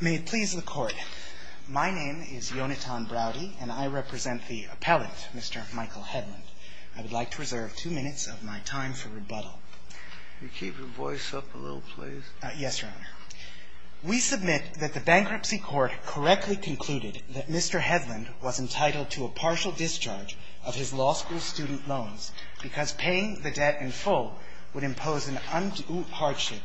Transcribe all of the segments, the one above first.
May it please the Court. My name is Yonatan Browdy, and I represent the appellant, Mr. Michael Hedlund. I would like to reserve two minutes of my time for rebuttal. Will you keep your voice up a little, please? Yes, Your Honor. We submit that the Bankruptcy Court correctly concluded that Mr. Hedlund was entitled to a partial discharge of his law school student loans because paying the debt in full would impose an undue hardship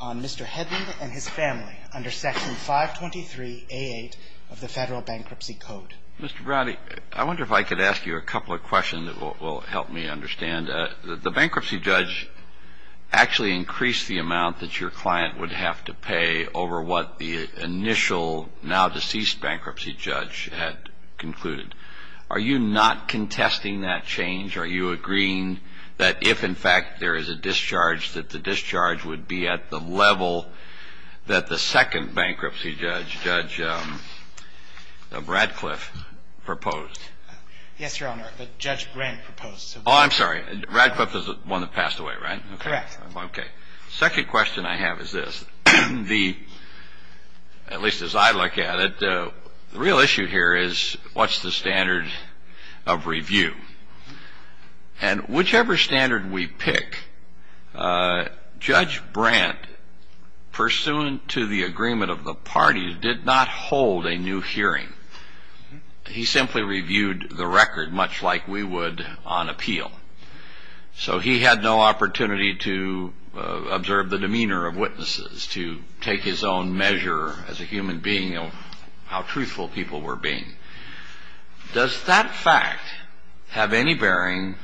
on Mr. Hedlund and his family under Section 523A8 of the Federal Bankruptcy Code. Mr. Browdy, I wonder if I could ask you a couple of questions that will help me understand. The bankruptcy judge actually increased the amount that your client would have to pay over what the initial now-deceased bankruptcy judge had concluded. Are you not contesting that change? Are you agreeing that if, in fact, there is a discharge, that the discharge would be at the level that the second bankruptcy judge, Judge Radcliffe, proposed? Yes, Your Honor. Judge Grant proposed. Oh, I'm sorry. Radcliffe is the one that passed away, right? Correct. Okay. The second question I have is this. At least as I look at it, the real issue here is what's the standard of review? And whichever standard we pick, Judge Brandt, pursuant to the agreement of the parties, did not hold a new hearing. He simply reviewed the record much like we would on appeal. So he had no opportunity to observe the demeanor of witnesses, to take his own measure as a human being of how truthful people were being. Does that fact have any bearing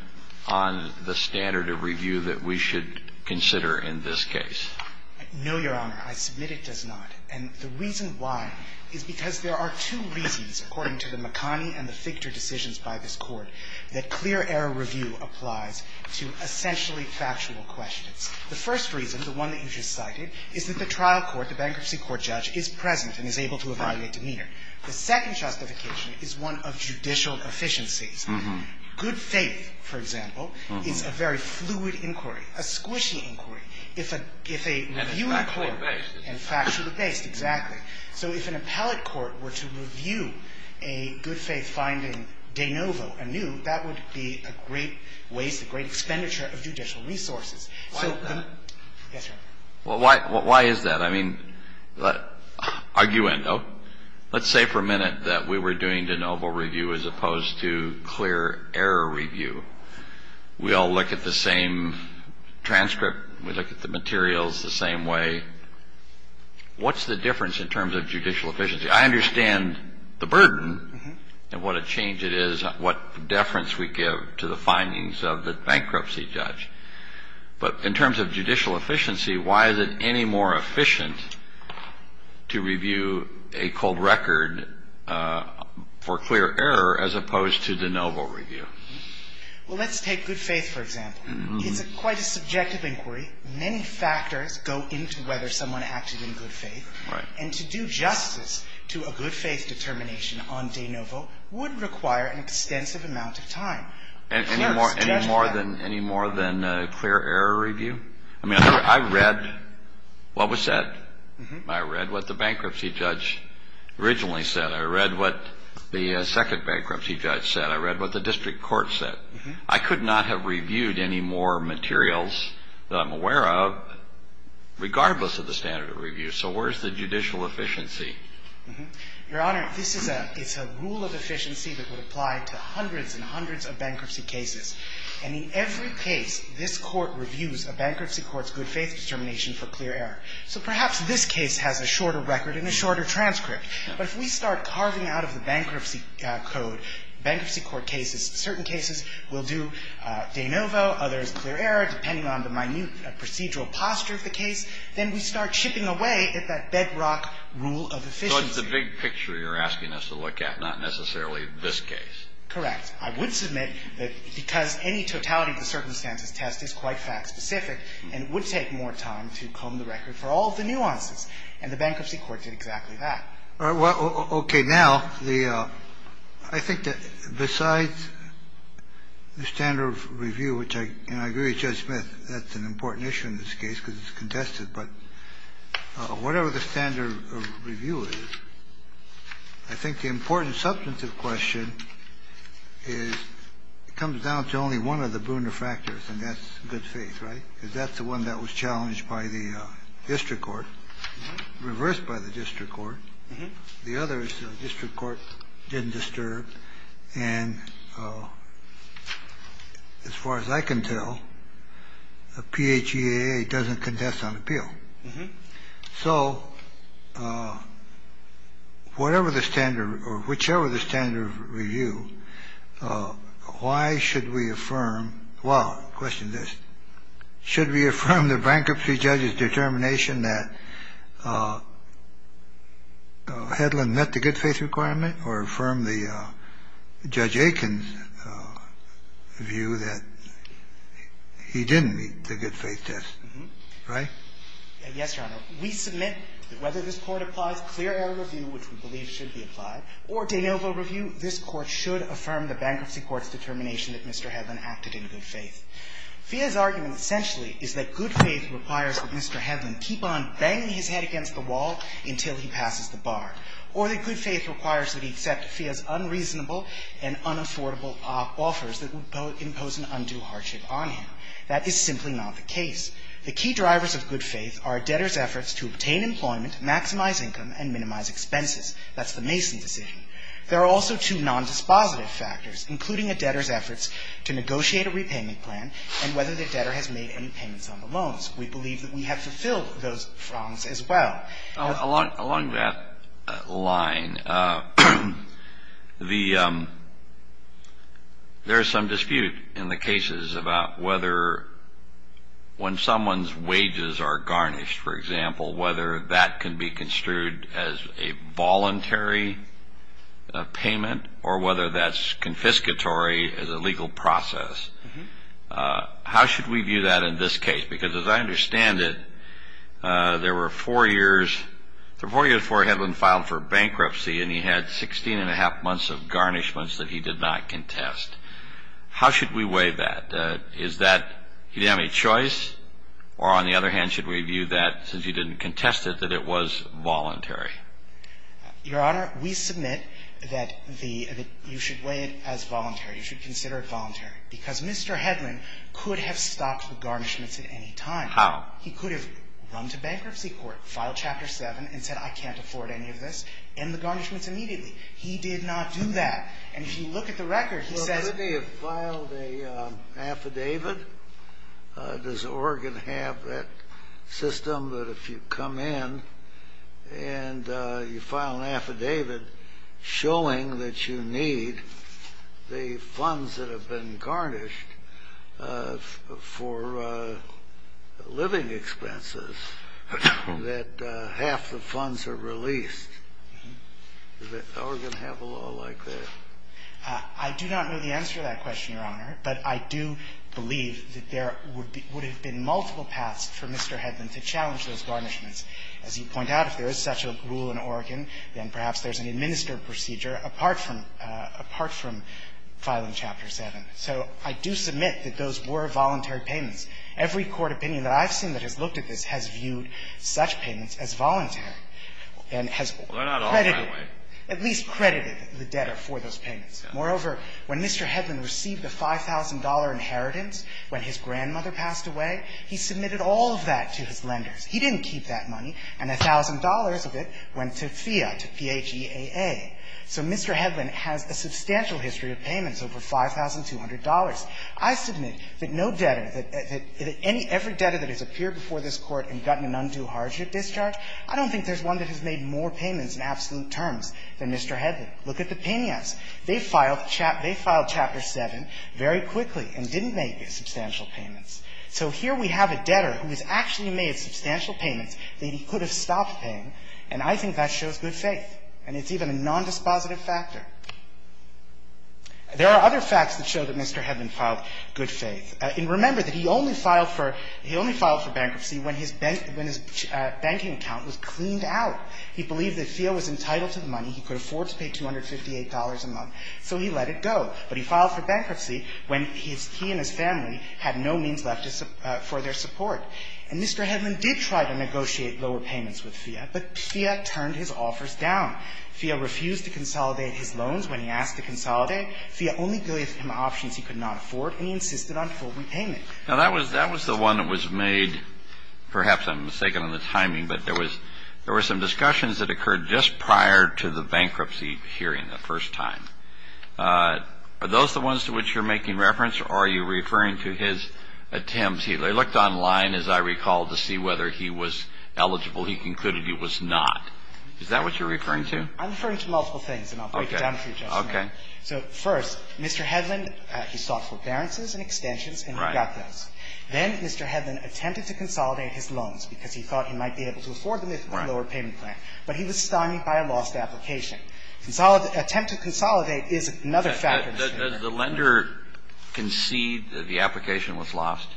on the standard of review that we should consider in this case? No, Your Honor. I submit it does not. And the reason why is because there are two reasons, according to the McConney and the Fichter decisions by this Court, that clear error review applies to essentially factual questions. The first reason, the one that you just cited, is that the trial court, the bankruptcy court judge, is present and is able to evaluate demeanor. The second justification is one of judicial efficiencies. Good faith, for example, is a very fluid inquiry, a squishy inquiry. And factually based. And factually based, exactly. So if an appellate court were to review a good faith finding de novo, anew, that would be a great waste, a great expenditure of judicial resources. Why is that? Yes, Your Honor. Well, why is that? I mean, arguendo. Let's say for a minute that we were doing de novo review as opposed to clear error review. We all look at the same transcript. We look at the materials the same way. What's the difference in terms of judicial efficiency? I understand the burden and what a change it is, what deference we give to the findings of the bankruptcy judge. But in terms of judicial efficiency, why is it any more efficient to review a cold record for clear error as opposed to de novo review? Well, let's take good faith, for example. It's quite a subjective inquiry. Many factors go into whether someone acted in good faith. Right. And to do justice to a good faith determination on de novo would require an extensive amount of time. Any more than clear error review? I mean, I read what was said. I read what the bankruptcy judge originally said. I read what the second bankruptcy judge said. I read what the district court said. I could not have reviewed any more materials that I'm aware of regardless of the standard of review. So where's the judicial efficiency? Your Honor, this is a rule of efficiency that would apply to hundreds and hundreds of bankruptcy cases. And in every case, this Court reviews a bankruptcy court's good faith determination for clear error. So perhaps this case has a shorter record and a shorter transcript. But if we start carving out of the bankruptcy code, bankruptcy court cases, certain cases will do de novo, others clear error, depending on the minute procedural posture of the case. Then we start chipping away at that bedrock rule of efficiency. So it's the big picture you're asking us to look at, not necessarily this case. Correct. I would submit that because any totality of the circumstances test is quite fact-specific and it would take more time to comb the record for all of the nuances. And the bankruptcy court did exactly that. Well, okay. Now, I think that besides the standard of review, which I agree with Judge Smith, that's an important issue in this case because it's contested. But whatever the standard of review is, I think the important substantive question is it comes down to only one of the bruner factors, and that's good faith, right? Because that's the one that was challenged by the district court, reversed by the district court. The other is the district court didn't disturb. And as far as I can tell, a PHEAA doesn't contest on appeal. So whatever the standard or whichever the standard of review, why should we affirm, well, question this, should we affirm the bankruptcy judge's determination that Hedlund met the good faith requirement or affirm the Judge Aiken's view that he didn't meet the good faith test, right? Yes, Your Honor. We submit that whether this Court applies clear error review, which we believe should be applied, or de novo review, this Court should affirm the bankruptcy court's determination that Mr. Hedlund acted in good faith. PHEAA's argument essentially is that good faith requires that Mr. Hedlund keep on banging his head against the wall until he passes the bar, or that good faith requires that he accept PHEAA's unreasonable and unaffordable offers that would impose an undue hardship on him. That is simply not the case. The key drivers of good faith are a debtor's efforts to obtain employment, maximize income, and minimize expenses. That's the Mason decision. There are also two nondispositive factors, including a debtor's efforts to negotiate a repayment plan and whether the debtor has made any payments on the loans. We believe that we have fulfilled those as well. Along that line, there is some dispute in the cases about whether when someone's voluntary payment or whether that's confiscatory as a legal process. How should we view that in this case? Because as I understand it, there were four years before Hedlund filed for bankruptcy, and he had 16 1⁄2 months of garnishments that he did not contest. How should we weigh that? Is that he didn't have any choice, or on the other hand, should we view that since he didn't contest it that it was voluntary? Your Honor, we submit that the — that you should weigh it as voluntary. You should consider it voluntary. Because Mr. Hedlund could have stopped the garnishments at any time. How? He could have run to bankruptcy court, filed Chapter 7, and said, I can't afford any of this, end the garnishments immediately. He did not do that. And if you look at the record, he says — Well, couldn't he have filed an affidavit? Does Oregon have that system that if you come in and you file an affidavit showing that you need the funds that have been garnished for living expenses that half the funds are released? Does Oregon have a law like that? I do not know the answer to that question, Your Honor. But I do believe that there would be — would have been multiple paths for Mr. Hedlund to challenge those garnishments. As you point out, if there is such a rule in Oregon, then perhaps there's an administered procedure apart from — apart from filing Chapter 7. So I do submit that those were voluntary payments. Every court opinion that I've seen that has looked at this has viewed such payments as voluntary and has credited it. Well, they're not all that way. At least credited the debtor for those payments. Moreover, when Mr. Hedlund received the $5,000 inheritance when his grandmother passed away, he submitted all of that to his lenders. He didn't keep that money. And $1,000 of it went to FEA, to P-H-E-A-A. So Mr. Hedlund has a substantial history of payments over $5,200. I submit that no debtor, that any — every debtor that has appeared before this Court and gotten an undue hardship discharge, I don't think there's one that has made more payments in absolute terms than Mr. Hedlund. Look at the penias. They filed Chapter 7 very quickly and didn't make substantial payments. So here we have a debtor who has actually made substantial payments that he could have stopped paying, and I think that shows good faith. And it's even a nondispositive factor. There are other facts that show that Mr. Hedlund filed good faith. And remember that he only filed for — he only filed for bankruptcy when his — when his banking account was cleaned out. He believed that FEA was entitled to the money. He could afford to pay $258 a month. So he let it go. But he filed for bankruptcy when he and his family had no means left for their support. And Mr. Hedlund did try to negotiate lower payments with FEA, but FEA turned his offers down. FEA refused to consolidate his loans when he asked to consolidate. FEA only gave him options he could not afford, and he insisted on full repayment. Now, that was — that was the one that was made — perhaps I'm mistaken on the timing, but there was — there were some discussions that occurred just prior to the bankruptcy hearing the first time. Are those the ones to which you're making reference, or are you referring to his attempts? I looked online, as I recall, to see whether he was eligible. He concluded he was not. Is that what you're referring to? I'm referring to multiple things, and I'll break it down for you, Justice Kennedy. Okay. So first, Mr. Hedlund, he sought forbearances and extensions, and he got those. Then Mr. Hedlund attempted to consolidate his loans because he thought he might be able to afford them if he had a lower payment plan. But he was stymied by a lost application. Consolidate — attempt to consolidate is another factor. Does the lender concede that the application was lost?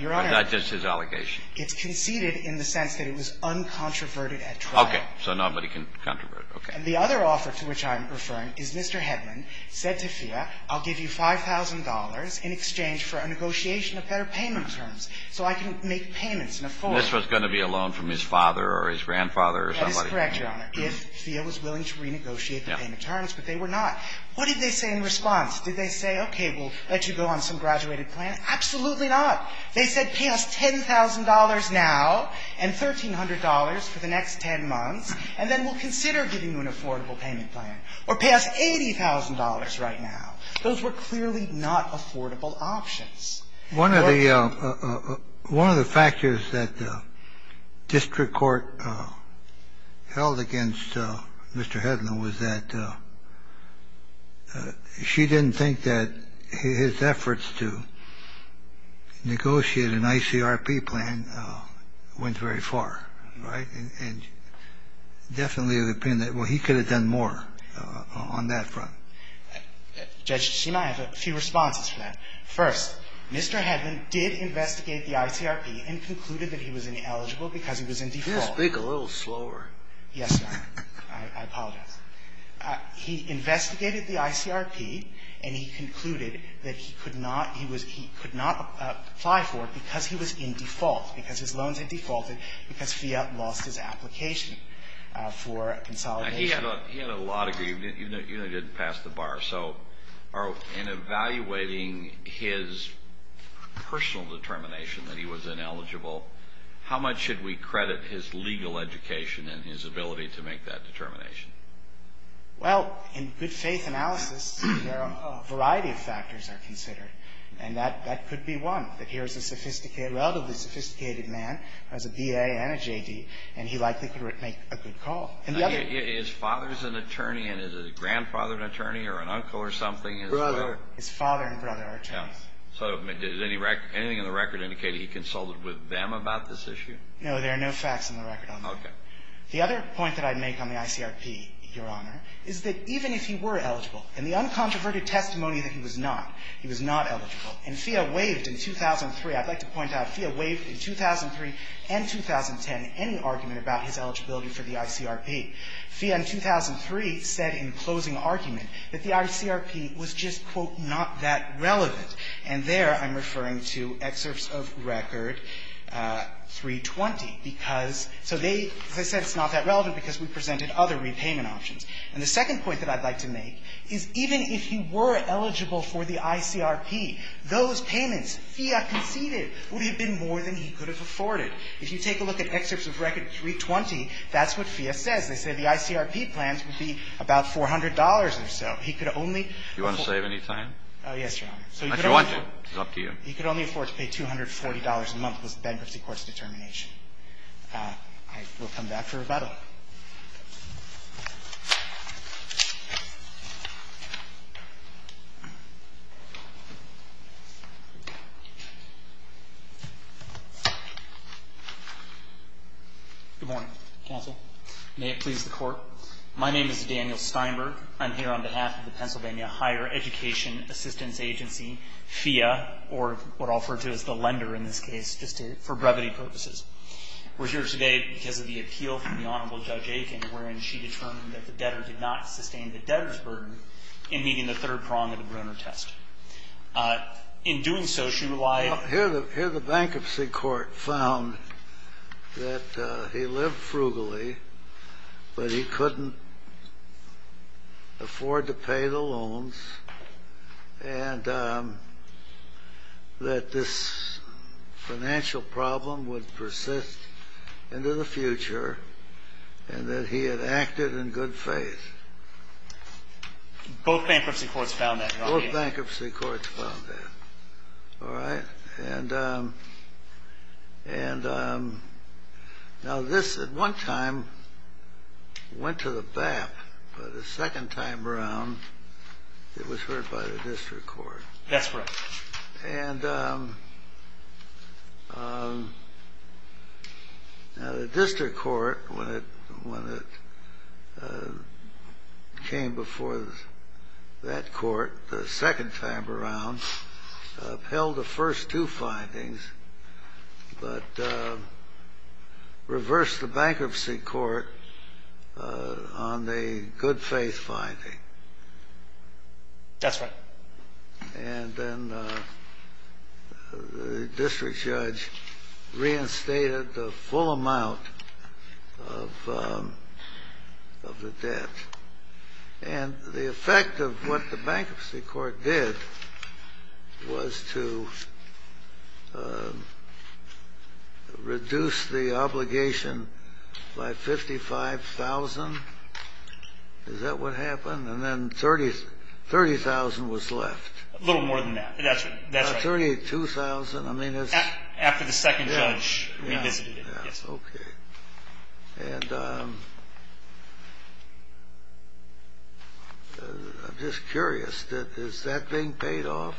Your Honor. Or is that just his allegation? It's conceded in the sense that it was uncontroverted at trial. So nobody can controvert. Okay. The other offer to which I'm referring is Mr. Hedlund said to FIA, I'll give you $5,000 in exchange for a negotiation of better payment terms so I can make payments and afford them. This was going to be a loan from his father or his grandfather or somebody. That is correct, Your Honor, if FIA was willing to renegotiate the payment terms, but they were not. What did they say in response? Did they say, okay, we'll let you go on some graduated plan? Absolutely not. They said pay us $10,000 now and $1,300 for the next 10 months, and then we'll consider giving you an affordable payment plan. Or pay us $80,000 right now. Those were clearly not affordable options. One of the factors that district court held against Mr. Hedlund was that she didn't think that his efforts to negotiate an ICRP plan went very far, right? And definitely the opinion that, well, he could have done more on that front. Judge, see, I have a few responses to that. First, Mr. Hedlund did investigate the ICRP and concluded that he was ineligible because he was in default. Can you speak a little slower? Yes, Your Honor. I apologize. He investigated the ICRP, and he concluded that he could not he was he could not apply for it because he was in default, because his loans had defaulted, because FIAT lost his application for consolidation. He had a lot of, you know, he didn't pass the bar. So in evaluating his personal determination that he was ineligible, how much should we credit his legal education and his ability to make that determination? Well, in good faith analysis, a variety of factors are considered, and that could be one, that here's a sophisticated, relatively sophisticated man who has a BA and a JD, and he likely could make a good call. His father is an attorney, and is his grandfather an attorney or an uncle or something? Brother. His father and brother are attorneys. So does anything in the record indicate he consulted with them about this issue? No, there are no facts in the record on that. Okay. The other point that I'd make on the ICRP, Your Honor, is that even if he were He was not eligible. And FIA waived in 2003. I'd like to point out FIA waived in 2003 and 2010 any argument about his eligibility for the ICRP. FIA in 2003 said in closing argument that the ICRP was just, quote, not that relevant. And there I'm referring to excerpts of Record 320, because so they, as I said, it's not that relevant because we presented other repayment options. And the second point that I'd like to make is even if he were eligible for the ICRP, those payments FIA conceded would have been more than he could have afforded. If you take a look at excerpts of Record 320, that's what FIA says. They say the ICRP plans would be about $400 or so. He could only afford. Do you want to save any time? Yes, Your Honor. If you want to. It's up to you. He could only afford to pay $240 a month was the bankruptcy court's determination. I will come back for rebuttal. Good morning, counsel. May it please the Court. My name is Daniel Steinberg. I'm here on behalf of the Pennsylvania Higher Education Assistance Agency, FIA, or what I'll refer to as the lender in this case, just for brevity purposes. We're here today because of the appeal from the Honorable Judge. I'm here on behalf of the Pennsylvania Higher Education Assistance Agency, FIA. I'm here on behalf of the Honorable Judge Aiken, wherein she determined that the debtor did not sustain the debtor's burden in meeting the third prong of the Brunner test. In doing so, she relied on… Well, here the bankruptcy court found that he lived frugally, but he couldn't afford to pay the loans, and that this financial problem would persist into the future, and that he had acted in good faith. Both bankruptcy courts found that, right? Both bankruptcy courts found that. All right? And now, this at one time went to the BAP, but the second time around, it was heard by the district court. That's right. And now, the district court, when it came before that court the second time around, upheld the first two findings, but reversed the bankruptcy court on the good faith finding. That's right. And then the district judge reinstated the full amount of the debt. And the effect of what the bankruptcy court did was to reduce the obligation by 55,000. Is that what happened? And then 30,000 was left. A little more than that. That's right. 32,000. After the second judge revisited it. Yes. Okay. And I'm just curious. Is that being paid off?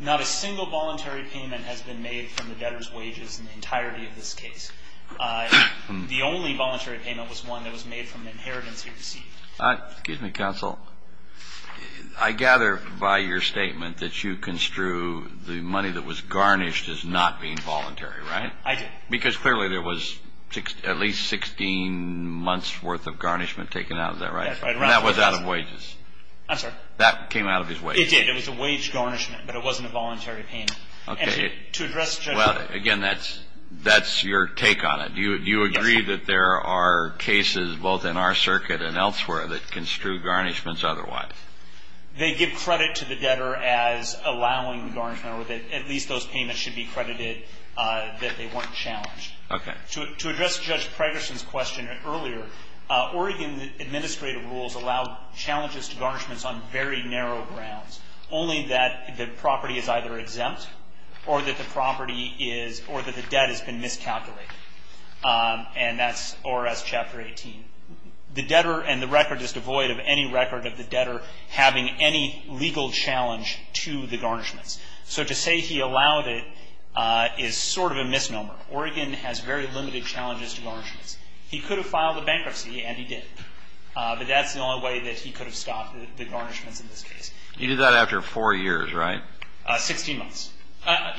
Not a single voluntary payment has been made from the debtor's wages in the entirety of this case. The only voluntary payment was one that was made from the inheritance he received. Excuse me, counsel. I gather by your statement that you construe the money that was garnished as not being voluntary, right? I did. Because clearly, there was at least 16 months' worth of garnishment taken out. Is that right? That's right. And that was out of wages. I'm sorry? That came out of his wages. It did. It was a wage garnishment, but it wasn't a voluntary payment. Okay. And to address the judge. Well, again, that's your take on it. Yes. Would you agree that there are cases both in our circuit and elsewhere that construe garnishments otherwise? They give credit to the debtor as allowing the garnishment or that at least those payments should be credited that they weren't challenged. Okay. To address Judge Preggerson's question earlier, Oregon administrative rules allow challenges to garnishments on very narrow grounds, only that the property is either exempt or that the property is or that the debt has been miscalculated. And that's ORS Chapter 18. The debtor and the record is devoid of any record of the debtor having any legal challenge to the garnishments. So to say he allowed it is sort of a misnomer. Oregon has very limited challenges to garnishments. He could have filed a bankruptcy, and he did. But that's the only way that he could have stopped the garnishments in this case. He did that after four years, right? Sixteen months.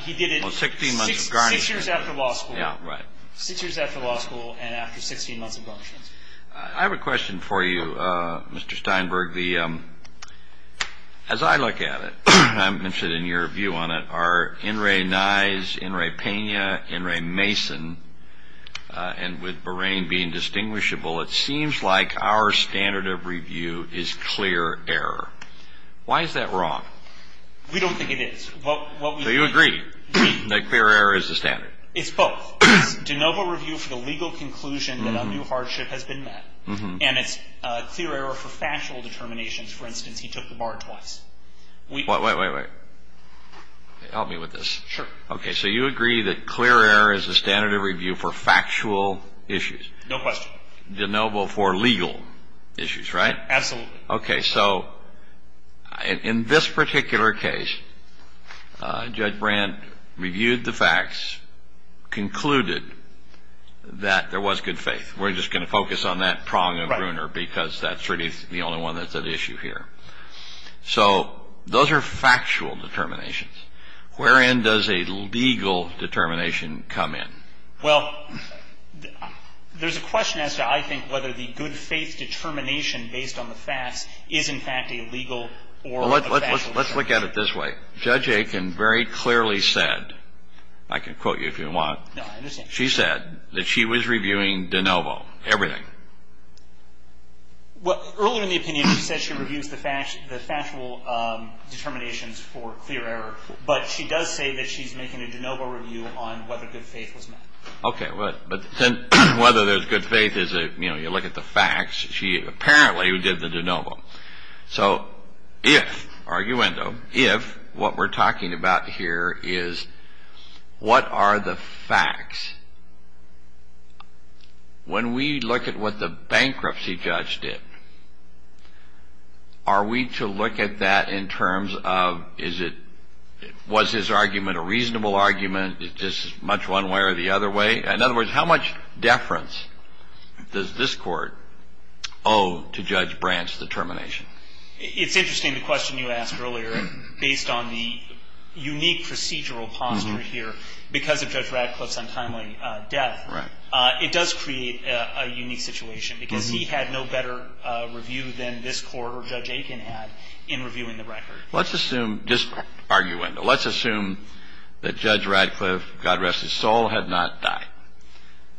He did it six years after law school. Yeah, right. Six years after law school and after 16 months of garnishments. I have a question for you, Mr. Steinberg. As I look at it, I'm interested in your view on it. Are In re Nye's, In re Pena, In re Mason, and with Bahrain being distinguishable, it seems like our standard of review is clear error. Why is that wrong? We don't think it is. Do you agree that clear error is the standard? It's both. It's de novo review for the legal conclusion that a new hardship has been met. And it's clear error for factual determinations. For instance, he took the bar twice. Wait, wait, wait, wait. Help me with this. Sure. Okay, so you agree that clear error is the standard of review for factual issues. No question. De novo for legal issues, right? Absolutely. Okay, so in this particular case, Judge Brand reviewed the facts, concluded that there was good faith. We're just going to focus on that prong of Bruner because that's really the only one that's at issue here. So those are factual determinations. Wherein does a legal determination come in? Well, there's a question as to I think whether the good faith determination based on the facts is in fact a legal or a factual determination. Well, let's look at it this way. Judge Aiken very clearly said, I can quote you if you want. No, I understand. She said that she was reviewing de novo, everything. Well, earlier in the opinion, she said she reviews the factual determinations for clear error, but she does say that she's making a de novo review on whether good faith was met. Okay, but whether there's good faith is, you know, you look at the facts. She apparently did the de novo. So if, arguendo, if what we're talking about here is what are the facts? When we look at what the bankruptcy judge did, are we to look at that in terms of is it, was his argument a reasonable argument? Is this much one way or the other way? In other words, how much deference does this court owe to Judge Branch's determination? It's interesting the question you asked earlier based on the unique procedural posture here. Because of Judge Radcliffe's untimely death, it does create a unique situation because he had no better review than this court or Judge Aiken had in reviewing the record. Let's assume, just arguendo, let's assume that Judge Radcliffe, God rest his soul, had not died.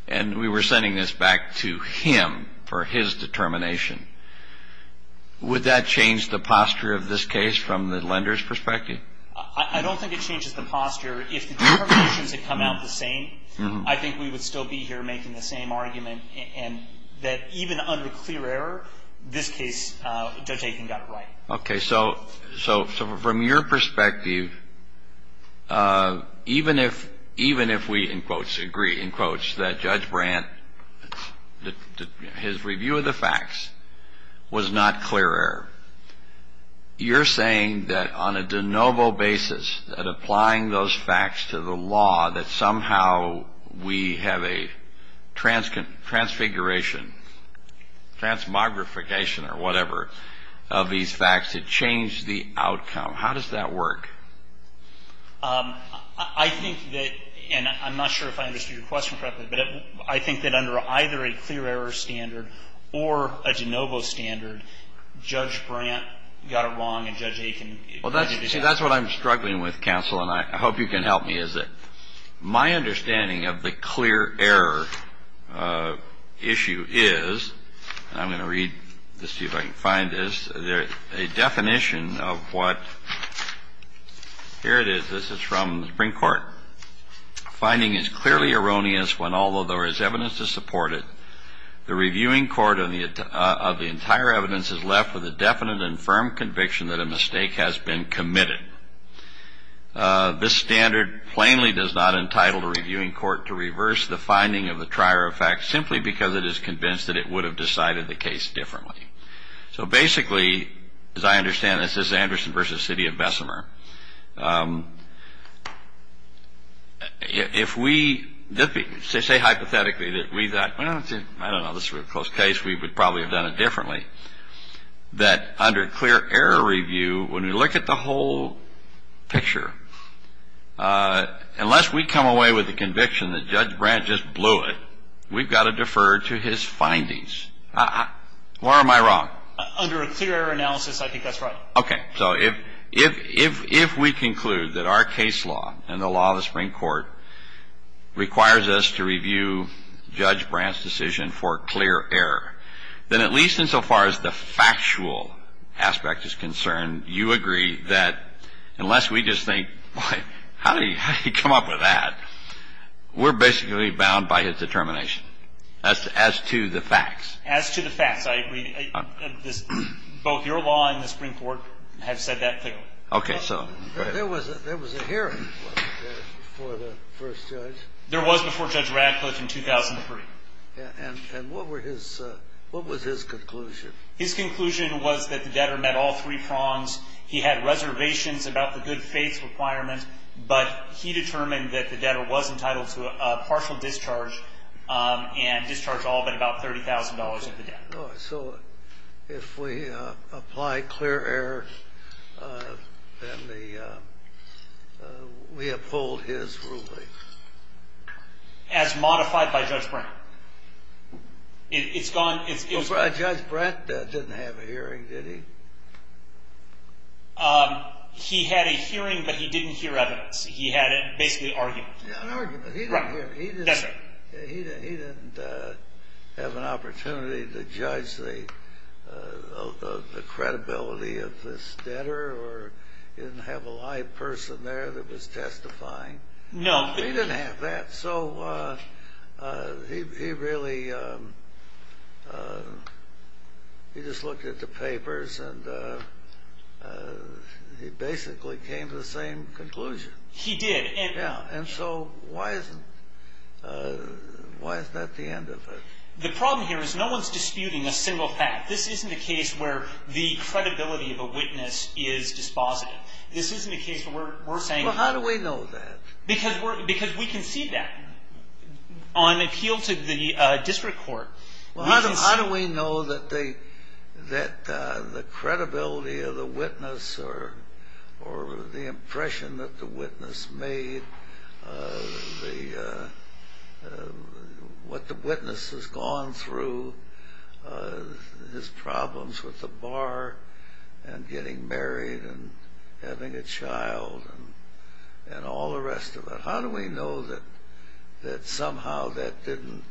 And we were sending this back to him for his determination. Would that change the posture of this case from the lender's perspective? I don't think it changes the posture. If the determinations had come out the same, I think we would still be here making the same argument and that even under clear error, this case, Judge Aiken got it right. Okay. So from your perspective, even if we, in quotes, agree, in quotes, that Judge Branch, his review of the facts was not clear error, you're saying that on a de novo basis, that applying those facts to the law, that somehow we have a transfiguration, transmogrification or whatever, of these facts that change the outcome. How does that work? I think that, and I'm not sure if I understood your question correctly, but I think that under either a clear error standard or a de novo standard, Judge Brant got it wrong and Judge Aiken got it right. See, that's what I'm struggling with, counsel, and I hope you can help me, is that my understanding of the clear error issue is, and I'm going to read this to you if I can find this, a definition of what, here it is, this is from the Supreme Court. Finding is clearly erroneous when, although there is evidence to support it, the reviewing court of the entire evidence is left with a definite and firm conviction that a mistake has been committed. This standard plainly does not entitle the reviewing court to reverse the finding of the trier of facts simply because it is convinced that it would have decided the case differently. So basically, as I understand this, this is Anderson v. City of Bessemer. If we say hypothetically that we thought, well, I don't know, this is a real close case, we would probably have done it differently, that under clear error review, when we look at the whole picture, unless we come away with a conviction that Judge Brant just blew it, we've got to defer to his findings. Where am I wrong? Under a clear error analysis, I think that's right. Okay. So if we conclude that our case law and the law of the Supreme Court requires us to review Judge Brant's decision for clear error, then at least insofar as the factual aspect is concerned, you agree that unless we just think, boy, how did he come up with that, we're basically bound by his determination as to the facts. As to the facts, I agree. Both your law and the Supreme Court have said that clearly. Okay. So go ahead. There was a hearing for the first judge. There was before Judge Radcliffe in 2003. And what were his – what was his conclusion? His conclusion was that the debtor met all three prongs. He had reservations about the good faith requirement, but he determined that the debtor was entitled to a partial discharge and discharge all but about $30,000 of the debt. So if we apply clear error, then the – we uphold his ruling. As modified by Judge Brant. It's gone – Judge Brant didn't have a hearing, did he? He had a hearing, but he didn't hear evidence. He had basically an argument. An argument. Right. He didn't have an opportunity to judge the credibility of this debtor or didn't have a live person there that was testifying. No. He didn't have that. So he really – he just looked at the papers and he basically came to the same conclusion. He did. Yeah. And so why isn't – why is that the end of it? The problem here is no one is disputing a single fact. This isn't a case where the credibility of a witness is dispositive. This isn't a case where we're saying – Well, how do we know that? Because we can see that on appeal to the district court. Well, how do we know that the credibility of the witness or the impression that the witness made, what the witness has gone through, his problems with the bar and getting married and having a child and all the rest of it, how do we know that somehow that didn't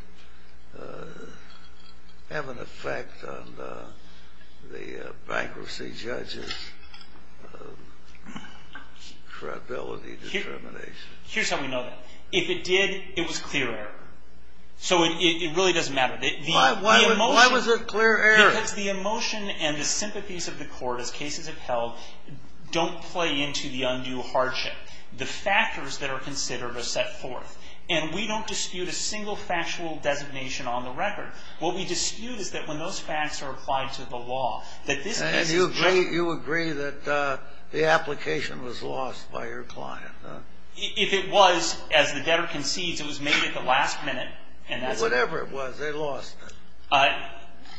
have an effect on the bankruptcy judge's credibility determination? Here's how we know that. If it did, it was clear error. So it really doesn't matter. Why was it clear error? Because the emotion and the sympathies of the court, as cases have held, don't play into the undue hardship. The factors that are considered are set forth. And we don't dispute a single factual designation on the record. What we dispute is that when those facts are applied to the law, that this case is clear. And you agree that the application was lost by your client? If it was, as the debtor concedes, it was made at the last minute. Whatever it was, they lost it.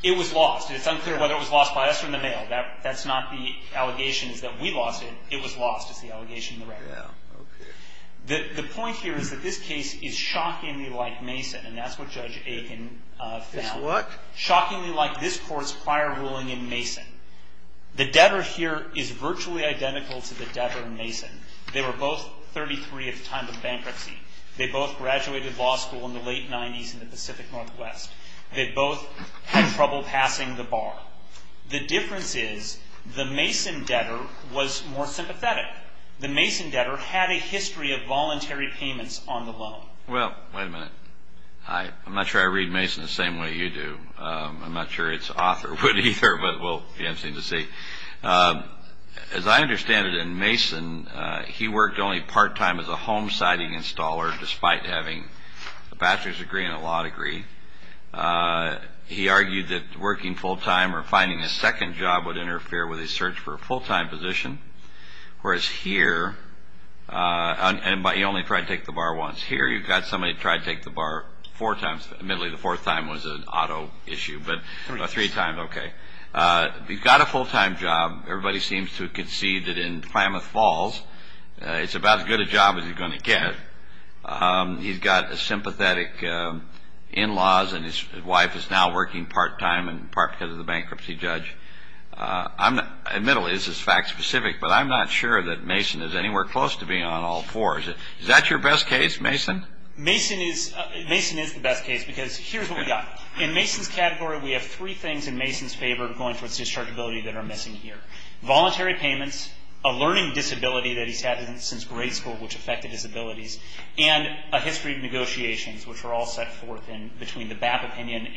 It was lost. It's unclear whether it was lost by us or in the mail. That's not the allegation is that we lost it. It was lost is the allegation in the record. The point here is that this case is shockingly like Mason. And that's what Judge Aiken found. Shockingly like this court's prior ruling in Mason. The debtor here is virtually identical to the debtor in Mason. They were both 33 at the time of the bankruptcy. They both graduated law school in the late 90s in the Pacific Northwest. They both had trouble passing the bar. The difference is the Mason debtor was more sympathetic. The Mason debtor had a history of voluntary payments on the loan. Well, wait a minute. I'm not sure I read Mason the same way you do. I'm not sure its author would either, but we'll see. As I understand it in Mason, he worked only part-time as a home siding installer despite having a bachelor's degree and a law degree. He argued that working full-time or finding a second job would interfere with his search for a full-time position. Whereas here, he only tried to take the bar once. Here you've got somebody who tried to take the bar four times. Admittedly, the fourth time was an auto issue, but three times, okay. He got a full-time job. Everybody seems to concede that in Klamath Falls, it's about as good a job as he's going to get. He's got sympathetic in-laws, and his wife is now working part-time and part because of the bankruptcy judge. Admittedly, this is fact specific, but I'm not sure that Mason is anywhere close to being on all fours. Is that your best case, Mason? Mason is the best case because here's what we've got. In Mason's category, we have three things in Mason's favor going towards dischargeability that are missing here. Voluntary payments, a learning disability that he's had since grade school which affected his abilities, and a history of negotiations which are all set forth in between the BAP opinion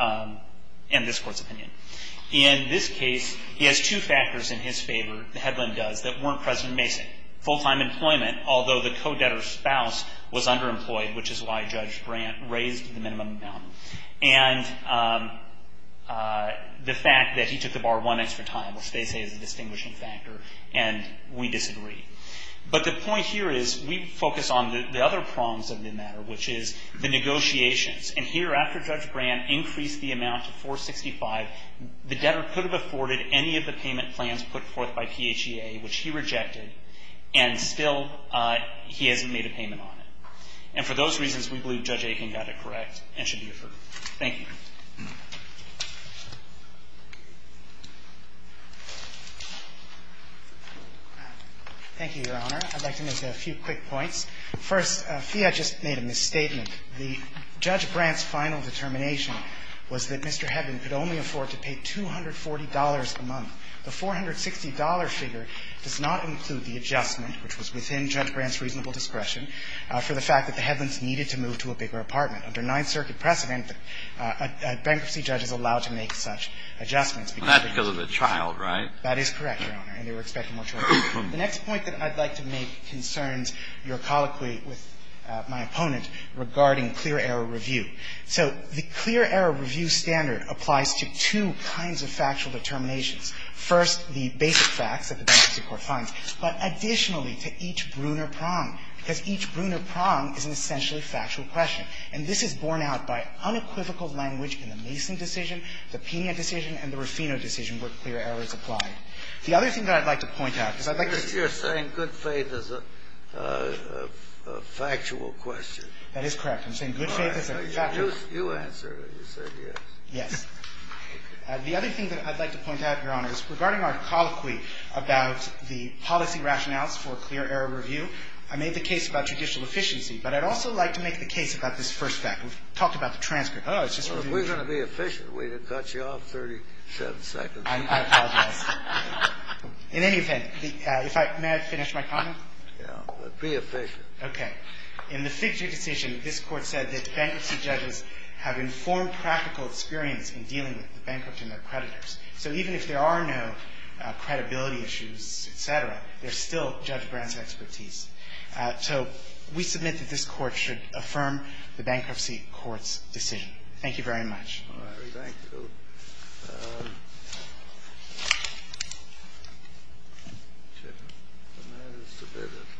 and this court's opinion. In this case, he has two factors in his favor, the headline does, that weren't present in Mason. Full-time employment, although the co-debtor's spouse was underemployed, which is why Judge Grant raised the minimum amount. And the fact that he took the bar one extra time, which they say is a distinguishing factor, and we disagree. But the point here is we focus on the other prongs of the matter, which is the negotiations. And here, after Judge Grant increased the amount to 465, the debtor could have afforded any of the payment plans put forth by PHEA, which he rejected, and still he hasn't made a payment on it. And for those reasons, we believe Judge Aiken got it correct and should be referred. Thank you. Thank you, Your Honor. I'd like to make a few quick points. First, PHEA just made a misstatement. The Judge Grant's final determination was that Mr. Hedlund could only afford to pay $240 a month. The $460 figure does not include the adjustment, which was within Judge Grant's reasonable discretion, for the fact that the Hedlunds needed to move to a bigger apartment. Under Ninth Circuit precedent, a bankruptcy judge is allowed to make such adjustments. That's because of the child, right? That is correct, Your Honor, and they were expecting more children. The next point that I'd like to make concerns your colloquy with my opponent regarding clear-error review. So the clear-error review standard applies to two kinds of factual determinations. First, the basic facts that the Bankruptcy Court finds, but additionally to each Bruner prong, because each Bruner prong is an essentially factual question. And this is borne out by unequivocal language in the Mason decision, the Pena decision, and the Ruffino decision where clear error is applied. The other thing that I'd like to point out is I'd like to see your saying good faith is a factual question. That is correct. I'm saying good faith is a factual question. You answered and you said yes. Yes. The other thing that I'd like to point out, Your Honor, is regarding our colloquy about the policy rationales for clear-error review, I made the case about judicial efficiency, but I'd also like to make the case about this first fact. We've talked about the transcript. It's just review. Well, if we're going to be efficient, we'd have cut you off 37 seconds. I apologize. In any event, may I finish my comment? Yes. But be efficient. Okay. In the Fitcher decision, this Court said that bankruptcy judges have informed practical experience in dealing with the bankrupt and their creditors. So even if there are no credibility issues, et cetera, there's still Judge Brand's expertise. So we submit that this Court should affirm the bankruptcy court's decision. Thank you very much. All right.